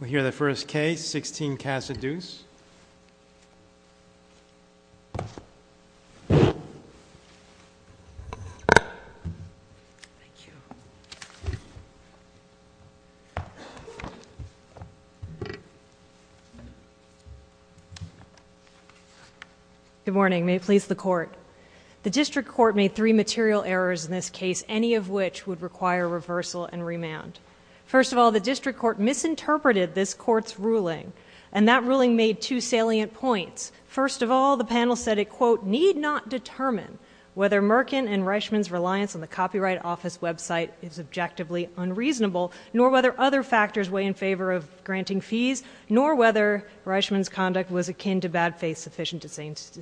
We hear the first case, 16 Casa Duse. Good morning, may it please the court. The district court made three material errors in this case, any of which would require reversal and remand. First of all, the district court misinterpreted this court's ruling, and that ruling made two salient points. First of all, the panel said it, quote, need not determine whether Merkin and Reichman's reliance on the Copyright Office website is objectively unreasonable, nor whether other factors weigh in favor of granting fees, nor whether Reichman's conduct was akin to bad faith sufficient to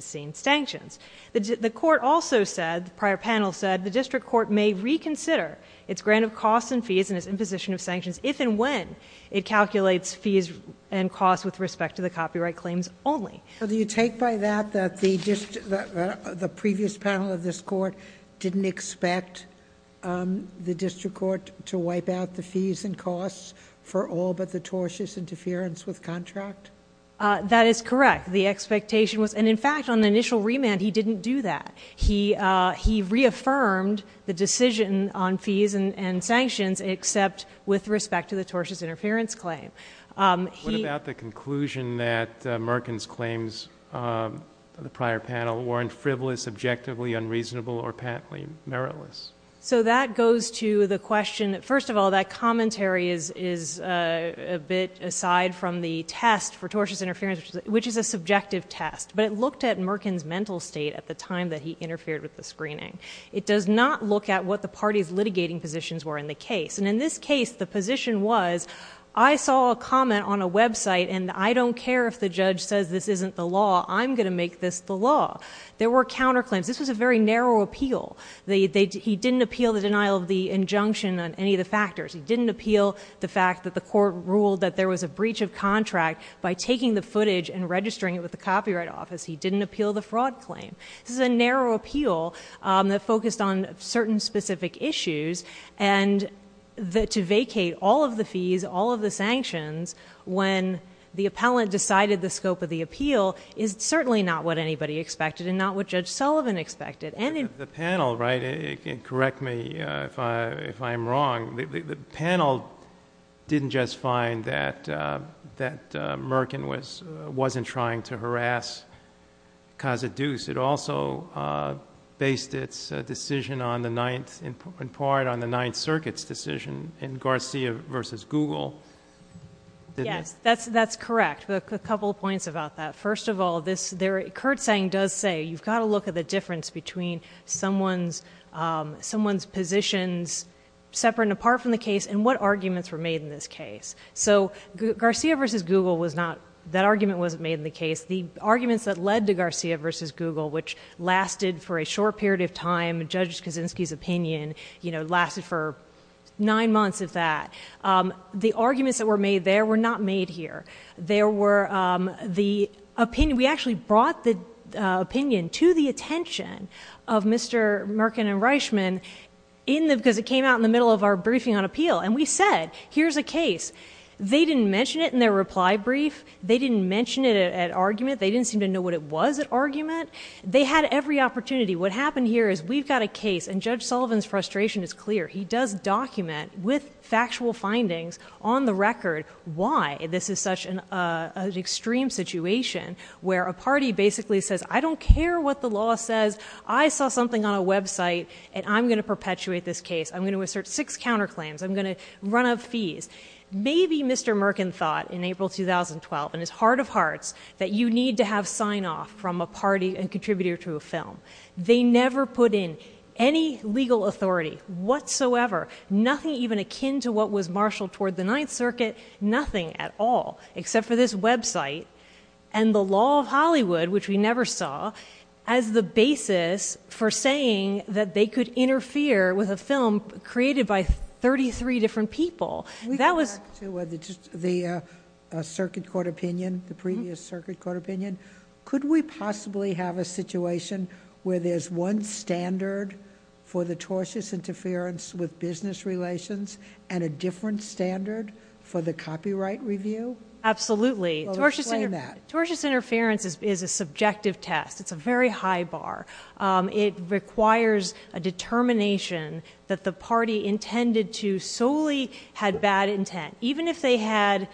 sanctions. The court also said, the prior panel said, the district court may reconsider its grant of costs and fees and its imposition of sanctions if and when it calculates fees and costs with respect to the copyright claims only. So do you take by that that the previous panel of this court didn't expect the district court to wipe out the fees and costs for all but the tortious interference with contract? That is correct. The expectation was, and in fact on the initial remand he didn't do that. He reaffirmed the decision on fees and sanctions except with respect to the tortious interference claim. What about the conclusion that Merkin's claims, the prior panel, weren't frivolous, objectively unreasonable, or patently meritless? So that goes to the question, first of all, that commentary is a bit aside from the test for tortious interference, which is a subjective test. But it looked at the time that he interfered with the screening. It does not look at what the party's litigating positions were in the case. And in this case, the position was, I saw a comment on a website and I don't care if the judge says this isn't the law, I'm going to make this the law. There were counterclaims. This was a very narrow appeal. He didn't appeal the denial of the injunction on any of the factors. He didn't appeal the fact that the court ruled that there was a breach of contract by taking the footage and this is a narrow appeal that focused on certain specific issues. And to vacate all of the fees, all of the sanctions when the appellant decided the scope of the appeal is certainly not what anybody expected and not what Judge Sullivan expected. The panel, correct me if I'm wrong, the panel didn't just find that Merkin wasn't trying to harass Caza-Duce. It also based its decision in part on the Ninth Circuit's decision in Garcia v. Google, didn't it? That's correct. A couple of points about that. First of all, Kurtzsang does say you've got to look at the difference between someone's positions separate and apart from the case and what arguments were made in this case. So Garcia v. Google was not, that argument wasn't made in the case. The arguments that led to Garcia v. Google, which lasted for a short period of time, Judge Kaczynski's opinion, you know, lasted for nine months at that. The arguments that were made there were not made here. There were the opinion, we actually brought the opinion to the attention of Mr. Merkin and Reichman in the, because it came out in the middle of our briefing on appeal and we said, here's a case. They didn't mention it in their reply brief, they didn't mention it at argument, they didn't seem to know what it was at argument. They had every opportunity. What happened here is we've got a case and Judge Sullivan's frustration is clear. He does document with factual findings on the record why this is such an extreme situation where a party basically says, I don't care what the law says. I saw something on a website and I'm going to perpetuate this case. I'm going to assert six counterclaims. I'm going to run up fees. Maybe Mr. Merkin thought in April 2012, and it's heart of hearts, that you need to have sign-off from a party and contributor to a film. They never put in any legal authority whatsoever, nothing even akin to what was marshaled toward the Ninth Circuit, nothing at all, except for this website and the law of Hollywood, which we never saw, as the basis for saying that they could interfere with a film created by 33 different people. We go back to the Circuit Court opinion, the previous Circuit Court opinion. Could we possibly have a situation where there's one standard for the tortious interference with business relations and a different standard for the copyright review? Absolutely. Explain that. Tortious interference is a subjective test. It's a very high bar. It requires a determination that the party intended to solely had bad intent. Even if they had...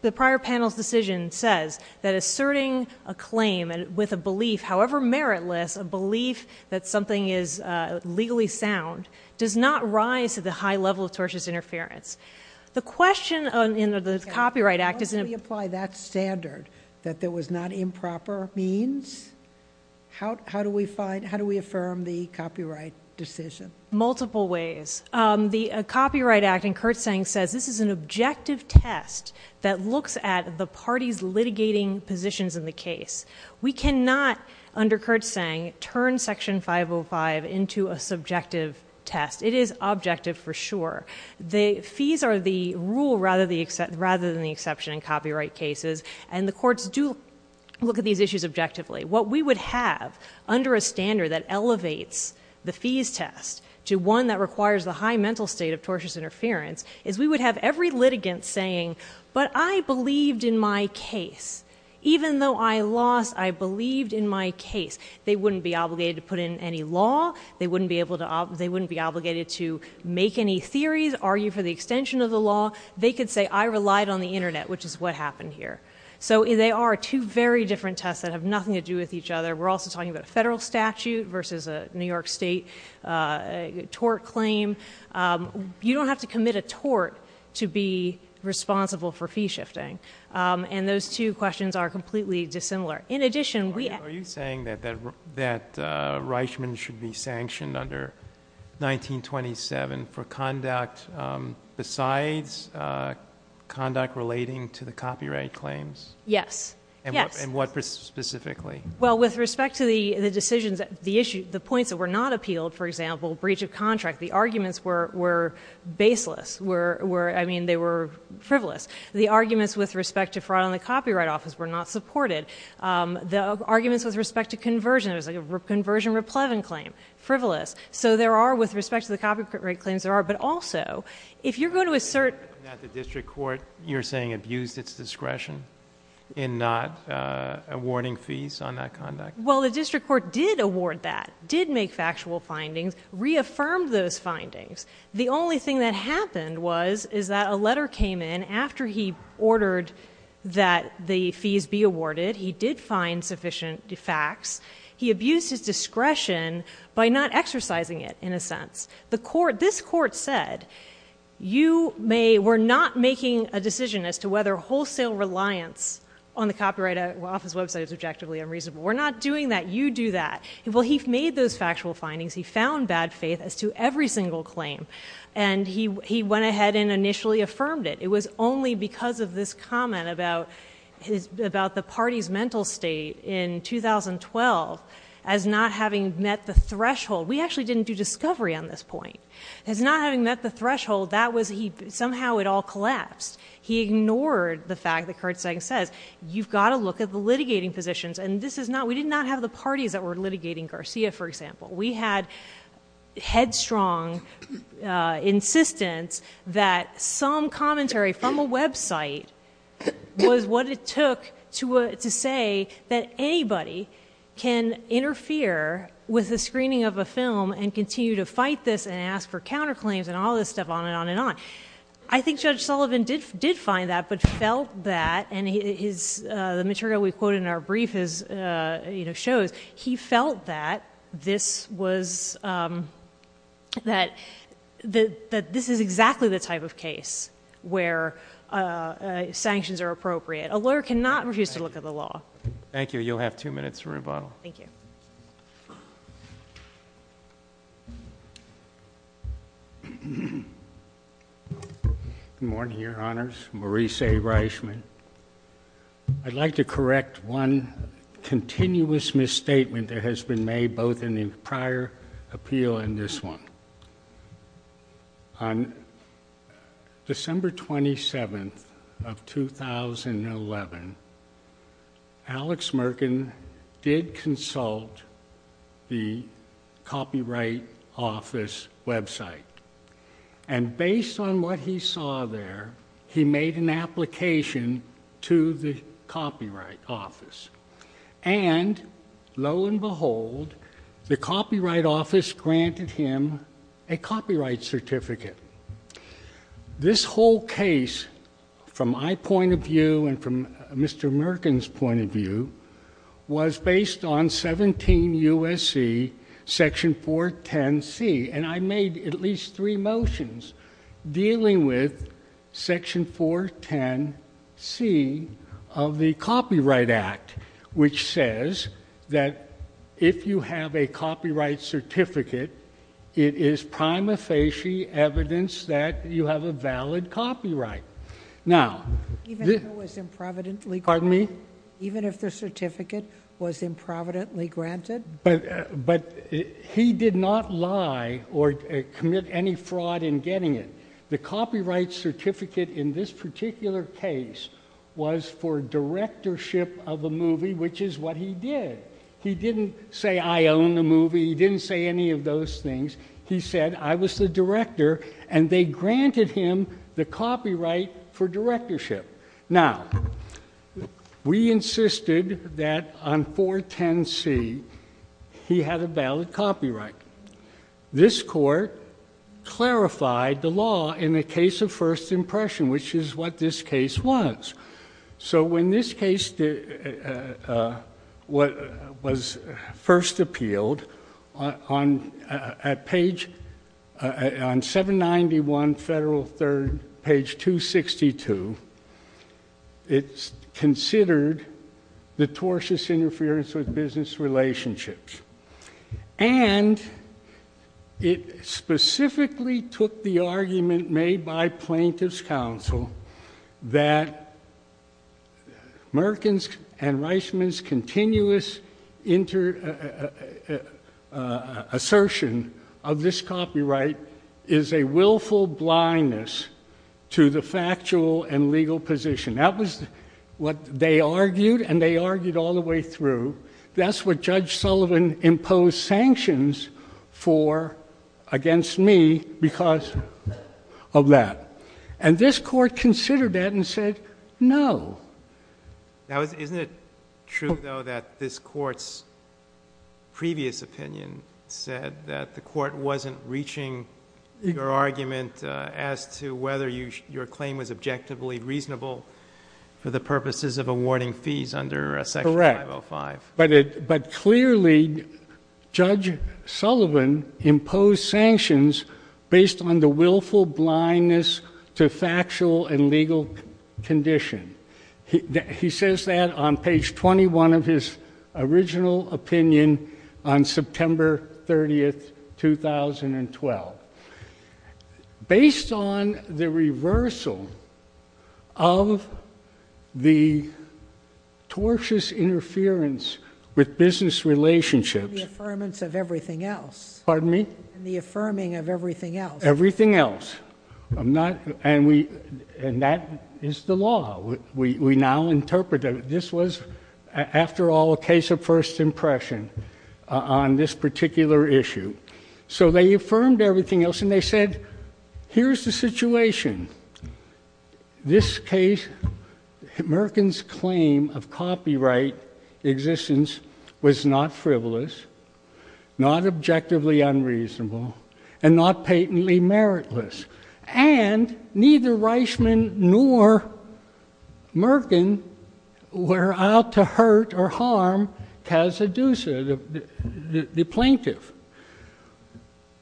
The prior panel's decision says that asserting a claim with a belief, however meritless, a belief that something is legally sound, does not rise to the high level of tortious interference. The question in the Copyright Act is... How do we apply that standard, that there was not improper means? How do we affirm the copyright decision? Multiple ways. The Copyright Act, and Kurtzsang says, this is an objective test that looks at the party's litigating positions in the case. We cannot, under Kurtzsang, turn Section 505 into a subjective test. It is objective, for sure. The fees are the rule, rather than the exception in copyright cases. The courts do look at these issues objectively. What we would have, under a standard that elevates the fees test to one that requires the high mental state of tortious interference, is we would have every litigant saying, but I believed in my case. Even though I lost, I believed in my case. They wouldn't be obligated to put in any law. They wouldn't be obligated to make any theories, argue for the extension of the law. They could say, I relied on the internet, which is what happened here. They are two very different tests that have nothing to do with each other. We're also talking about a federal statute versus a New York State tort claim. You don't have to commit a tort to be responsible for fee shifting. Those two questions are completely dissimilar. In addition, we... Are you saying that Reichman should be sanctioned under 1927 for conduct besides conduct relating to the copyright claims? Yes. And what specifically? Well, with respect to the decisions, the points that were not appealed, for example, breach of contract, the arguments were baseless. I mean, they were frivolous. The arguments with respect to fraud in the copyright office were not supported. The arguments with respect to conversion, it was like a conversion replevin claim, frivolous. So there are, with respect to the copyright claims, there are. But also, if you're going to assert... That the district court, you're saying, abused its discretion in not awarding fees on that conduct? Well, the district court did award that, did make factual findings, reaffirmed those findings. The only thing that happened was, is that a letter came in after he ordered that the fees be awarded. He did find sufficient facts. He abused his discretion by not exercising it, in a sense. The court, this court said, you may, we're not making a decision as to whether wholesale reliance on the copyright office website is objectively unreasonable. We're not doing that. You do that. Well, he made those factual findings. He found bad faith as to every single claim. And he went ahead and initially affirmed it. It was only because of this comment about the party's mental state in 2012, as not having met the threshold. We actually didn't do discovery on this point. As not having met the threshold, that was he, somehow it all collapsed. He ignored the fact that Kurtzsang says, you've got to look at the litigating positions. And this is not, we did not have the parties that were litigating Garcia, for example. We had headstrong insistence that some commentary from a website was what it took to say that anybody can interfere with the screening of a film and continue to fight this, and ask for counterclaims, and all this stuff, on and on and on. I think Judge Sullivan did find that, but felt that, and the material we quote in our brief shows, he felt that this was, that this is exactly the type of case where sanctions are appropriate. A lawyer cannot refuse to look at the law. Thank you. You'll have two minutes for rebuttal. Thank you. Good morning, Your Honors. Maurice A. Reichman. I'd like to correct one continuous misstatement that has been made, both in the prior appeal and this one. On December 27th of 2011, Alex Merkin did consult the Copyright Office website. And based on what he saw there, he made an application to the Copyright Office. And, lo and behold, the Copyright Office granted him a copyright certificate. This whole case, from my point of view and from Mr. Merkin's point of view, was based on 17 U.S.C., Section 410C. And I made at least three motions dealing with Section 410C of the Copyright Act, which says that if you have a copyright certificate, it is prima facie evidence that you have a valid copyright. Even if it was improvidently granted? Pardon me? Even if the certificate was improvidently granted? But he did not lie or commit any fraud in getting it. The copyright certificate in this particular case was for directorship of a movie, which is what he did. He didn't say, I own the movie. He didn't say any of those things. He said, I was the director. And they granted him the copyright for directorship. Now, we insisted that on 410C, he had a valid copyright. This court clarified the law in the case of first impression, which is what this case was. So when this case was first appealed, on 791 Federal 3rd, page 262, it's considered the tortious interference with business relationships. And it specifically took the argument made by plaintiff's counsel that Merkin's and Reisman's continuous assertion of this copyright is a willful blindness to the factual and legal position. That was what they argued, and they argued all the way through. That's what Judge Sullivan imposed sanctions for against me because of that. And this court considered that and said, no. Isn't it true, though, that this court's previous opinion said that the court wasn't reaching your argument as to whether your claim was objectively reasonable for the purposes of awarding fees under Section 505? Correct. But clearly, Judge Sullivan imposed sanctions based on the willful blindness to factual and legal condition. He says that on page 21 of his original opinion on September 30, 2012. Based on the reversal of the tortious interference with business relationships. And the affirmance of everything else. Pardon me? And the affirming of everything else. Everything else. And that is the law. We now interpret it. This was, after all, a case of first impression on this particular issue. So they affirmed everything else, and they said, here's the situation. This case, Merkin's claim of copyright existence, was not frivolous, not objectively unreasonable, and not patently meritless. And neither Reichman nor Merkin were out to hurt or harm Cazaduza, the plaintiff.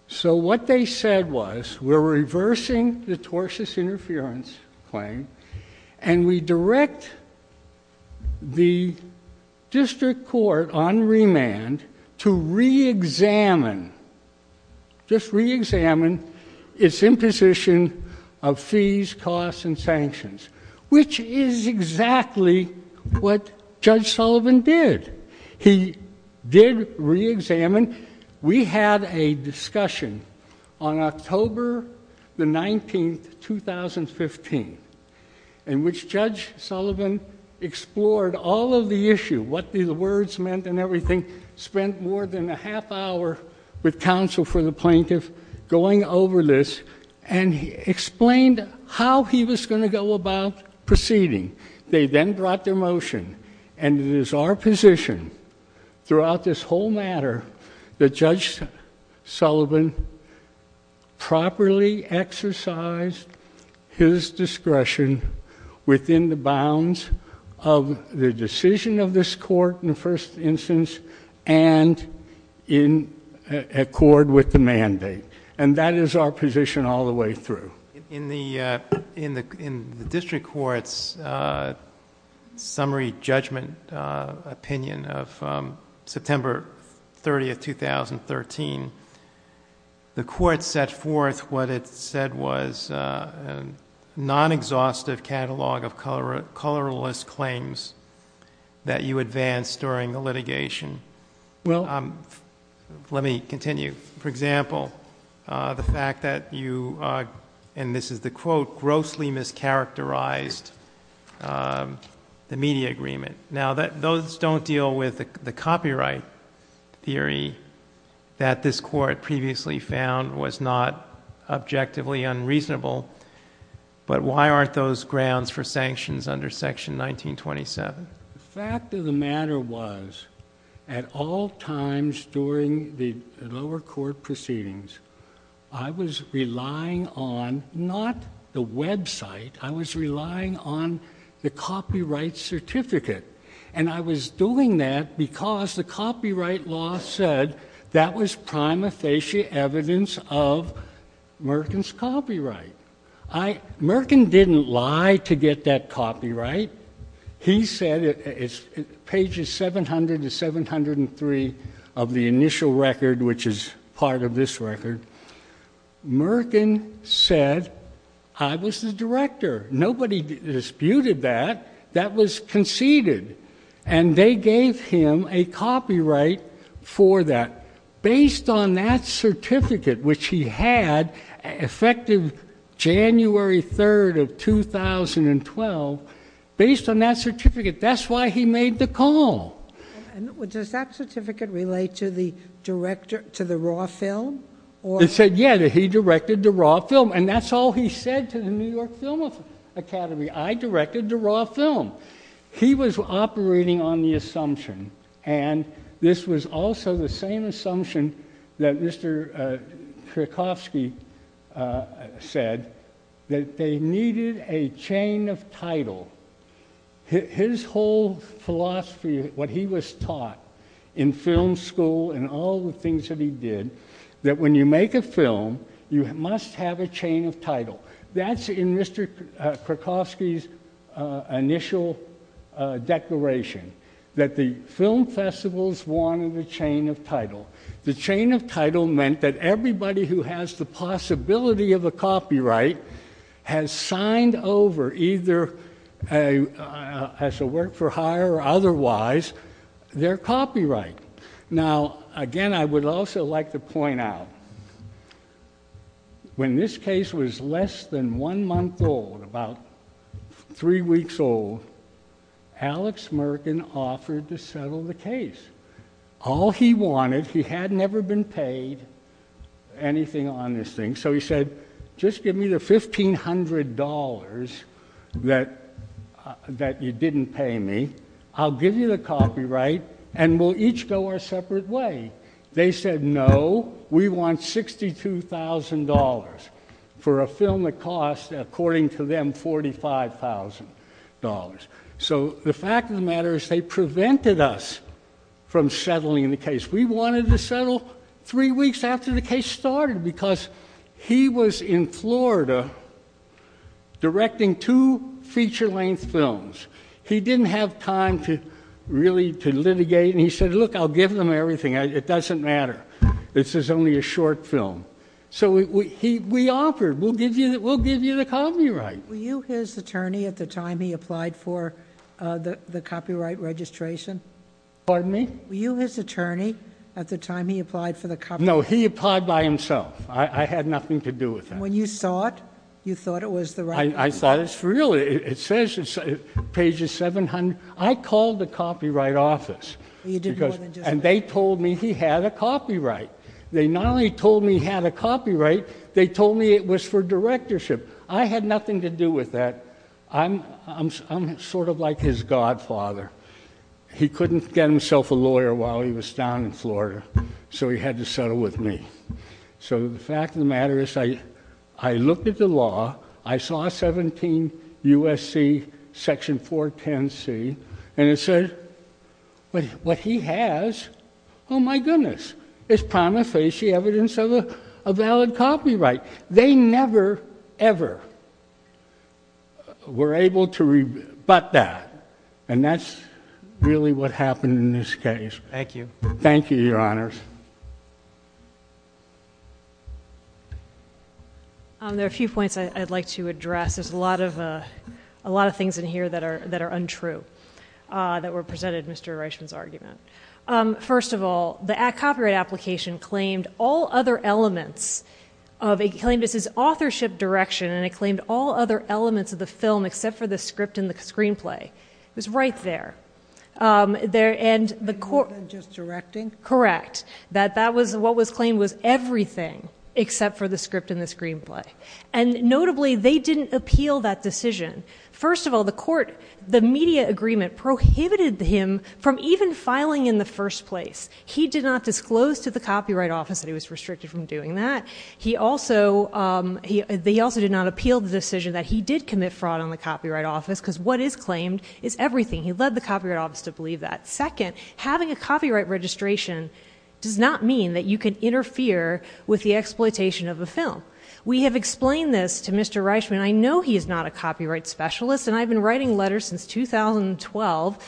So what they said was, we're reversing the tortious interference claim, and we direct the district court on remand to re-examine, just re-examine its imposition of fees, costs, and sanctions. Which is exactly what Judge Sullivan did. He did re-examine. We had a discussion on October the 19th, 2015, in which Judge Sullivan explored all of the issue, what the words meant and everything, spent more than a half hour with counsel for the plaintiff, going over this, and explained how he was going to go about proceeding. They then brought their motion. And it is our position, throughout this whole matter, that Judge Sullivan properly exercised his discretion within the bounds of the decision of this court, in the first instance, and in accord with the mandate. And that is our position all the way through. In the district court's summary judgment opinion of September 30th, 2013, the court set forth what it said was a non-exhaustive catalog of colorless claims that you advanced during the litigation. Let me continue. For example, the fact that you, and this is the quote, grossly mischaracterized the media agreement. Now, those don't deal with the copyright theory that this court previously found was not objectively unreasonable, but why aren't those grounds for sanctions under Section 1927? The fact of the matter was, at all times during the lower court proceedings, I was relying on not the website, I was relying on the copyright certificate. And I was doing that because the copyright law said that was prima facie evidence of Merkin's copyright. Merkin didn't lie to get that copyright. He said, pages 700 to 703 of the initial record, which is part of this record, Merkin said I was the director. Nobody disputed that. That was conceded. And they gave him a copyright for that based on that certificate, which he had effective January 3rd of 2012, based on that certificate. That's why he made the call. And does that certificate relate to the raw film? It said, yeah, that he directed the raw film. And that's all he said to the New York Film Academy. I directed the raw film. He was operating on the assumption, and this was also the same assumption that Mr. Krakowski said, that they needed a chain of title. His whole philosophy, what he was taught in film school and all the things that he did, that when you make a film, you must have a chain of title. That's in Mr. Krakowski's initial declaration, that the film festivals wanted a chain of title. The chain of title meant that everybody who has the possibility of a copyright has signed over, either as a work-for-hire or otherwise, their copyright. Now, again, I would also like to point out, when this case was less than one month old, about three weeks old, Alex Merkin offered to settle the case. All he wanted, he had never been paid anything on this thing, so he said, just give me the $1,500 that you didn't pay me, I'll give you the copyright, and we'll each go our separate way. They said, no, we want $62,000 for a film that cost, according to them, $45,000. So the fact of the matter is they prevented us from settling the case. We wanted to settle three weeks after the case started because he was in Florida directing two feature-length films. He didn't have time really to litigate, and he said, look, I'll give them everything, it doesn't matter. This is only a short film. So we offered, we'll give you the copyright. Were you his attorney at the time he applied for the copyright registration? Pardon me? Were you his attorney at the time he applied for the copyright? No, he applied by himself. I had nothing to do with that. When you saw it, you thought it was the right one? I thought it's real. It says, pages 700. I called the copyright office, and they told me he had a copyright. They not only told me he had a copyright, they told me it was for directorship. I had nothing to do with that. I'm sort of like his godfather. He couldn't get himself a lawyer while he was down in Florida, so he had to settle with me. So the fact of the matter is I looked at the law. I saw 17 U.S.C. section 410C, and it says what he has, oh, my goodness, is prima facie evidence of a valid copyright. They never, ever were able to rebut that, and that's really what happened in this case. Thank you. Thank you, Your Honors. There are a few points I'd like to address. There's a lot of things in here that are untrue, that were presented in Mr. Reichman's argument. First of all, the copyright application claimed all other elements. It claimed it's his authorship direction, and it claimed all other elements of the film except for the script and the screenplay. It was right there. Just directing? Correct. That that was what was claimed was everything except for the script and the screenplay. And notably, they didn't appeal that decision. First of all, the court, the media agreement prohibited him from even filing in the first place. He did not disclose to the Copyright Office that he was restricted from doing that. They also did not appeal the decision that he did commit fraud on the Copyright Office because what is claimed is everything. He led the Copyright Office to believe that. Second, having a copyright registration does not mean that you can interfere with the exploitation of a film. We have explained this to Mr. Reichman. I know he is not a copyright specialist, and I've been writing letters since 2012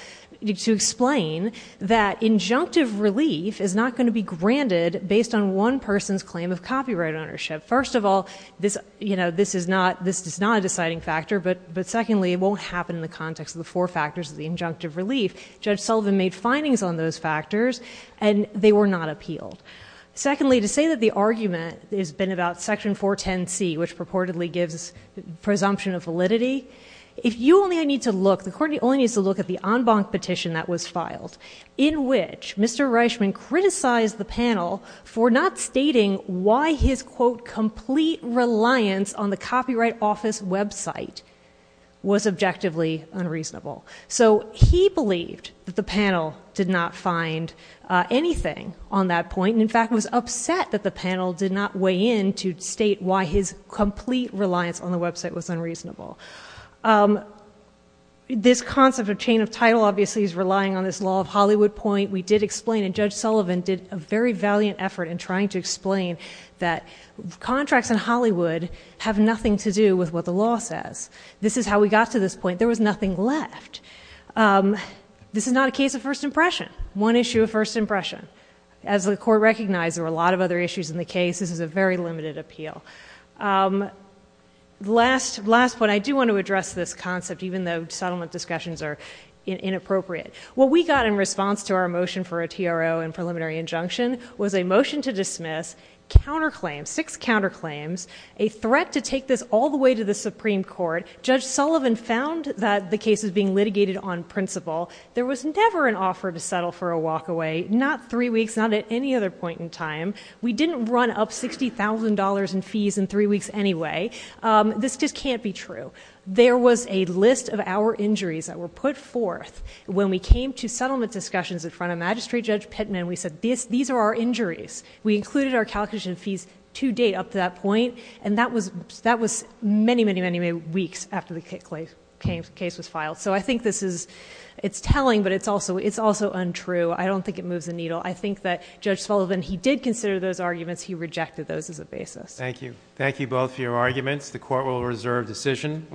to explain that injunctive relief is not going to be granted based on one person's claim of copyright ownership. First of all, this is not a deciding factor, but secondly, it won't happen in the context of the four factors of the injunctive relief. Judge Sullivan made findings on those factors, and they were not appealed. Secondly, to say that the argument has been about Section 410C, which purportedly gives presumption of validity, if you only need to look, the court only needs to look at the en banc petition that was filed, in which Mr. Reichman criticized the panel for not stating why his, quote, complete reliance on the Copyright Office website was objectively unreasonable. So he believed that the panel did not find anything on that point, and in fact was upset that the panel did not weigh in to state why his complete reliance on the website was unreasonable. This concept of chain of title obviously is relying on this law of Hollywood point. We did explain, and Judge Sullivan did a very valiant effort in trying to explain that contracts in Hollywood have nothing to do with what the law says. This is how we got to this point. There was nothing left. This is not a case of first impression. One issue of first impression. As the court recognized, there were a lot of other issues in the case. This is a very limited appeal. Last point, I do want to address this concept, even though settlement discussions are inappropriate. What we got in response to our motion for a TRO and preliminary injunction was a motion to dismiss, counterclaims, six counterclaims, a threat to take this all the way to the Supreme Court. Judge Sullivan found that the case was being litigated on principle. There was never an offer to settle for a walkaway, not three weeks, not at any other point in time. We didn't run up $60,000 in fees in three weeks anyway. This just can't be true. There was a list of our injuries that were put forth. When we came to settlement discussions in front of Magistrate Judge Pittman, we said, these are our injuries. We included our calculation fees to date up to that point, and that was many, many, many weeks after the case was filed. So I think this is telling, but it's also untrue. I don't think it moves the needle. I think that Judge Sullivan, he did consider those arguments. He rejected those as a basis. Thank you. Thank you both for your arguments. The court will reserve decision.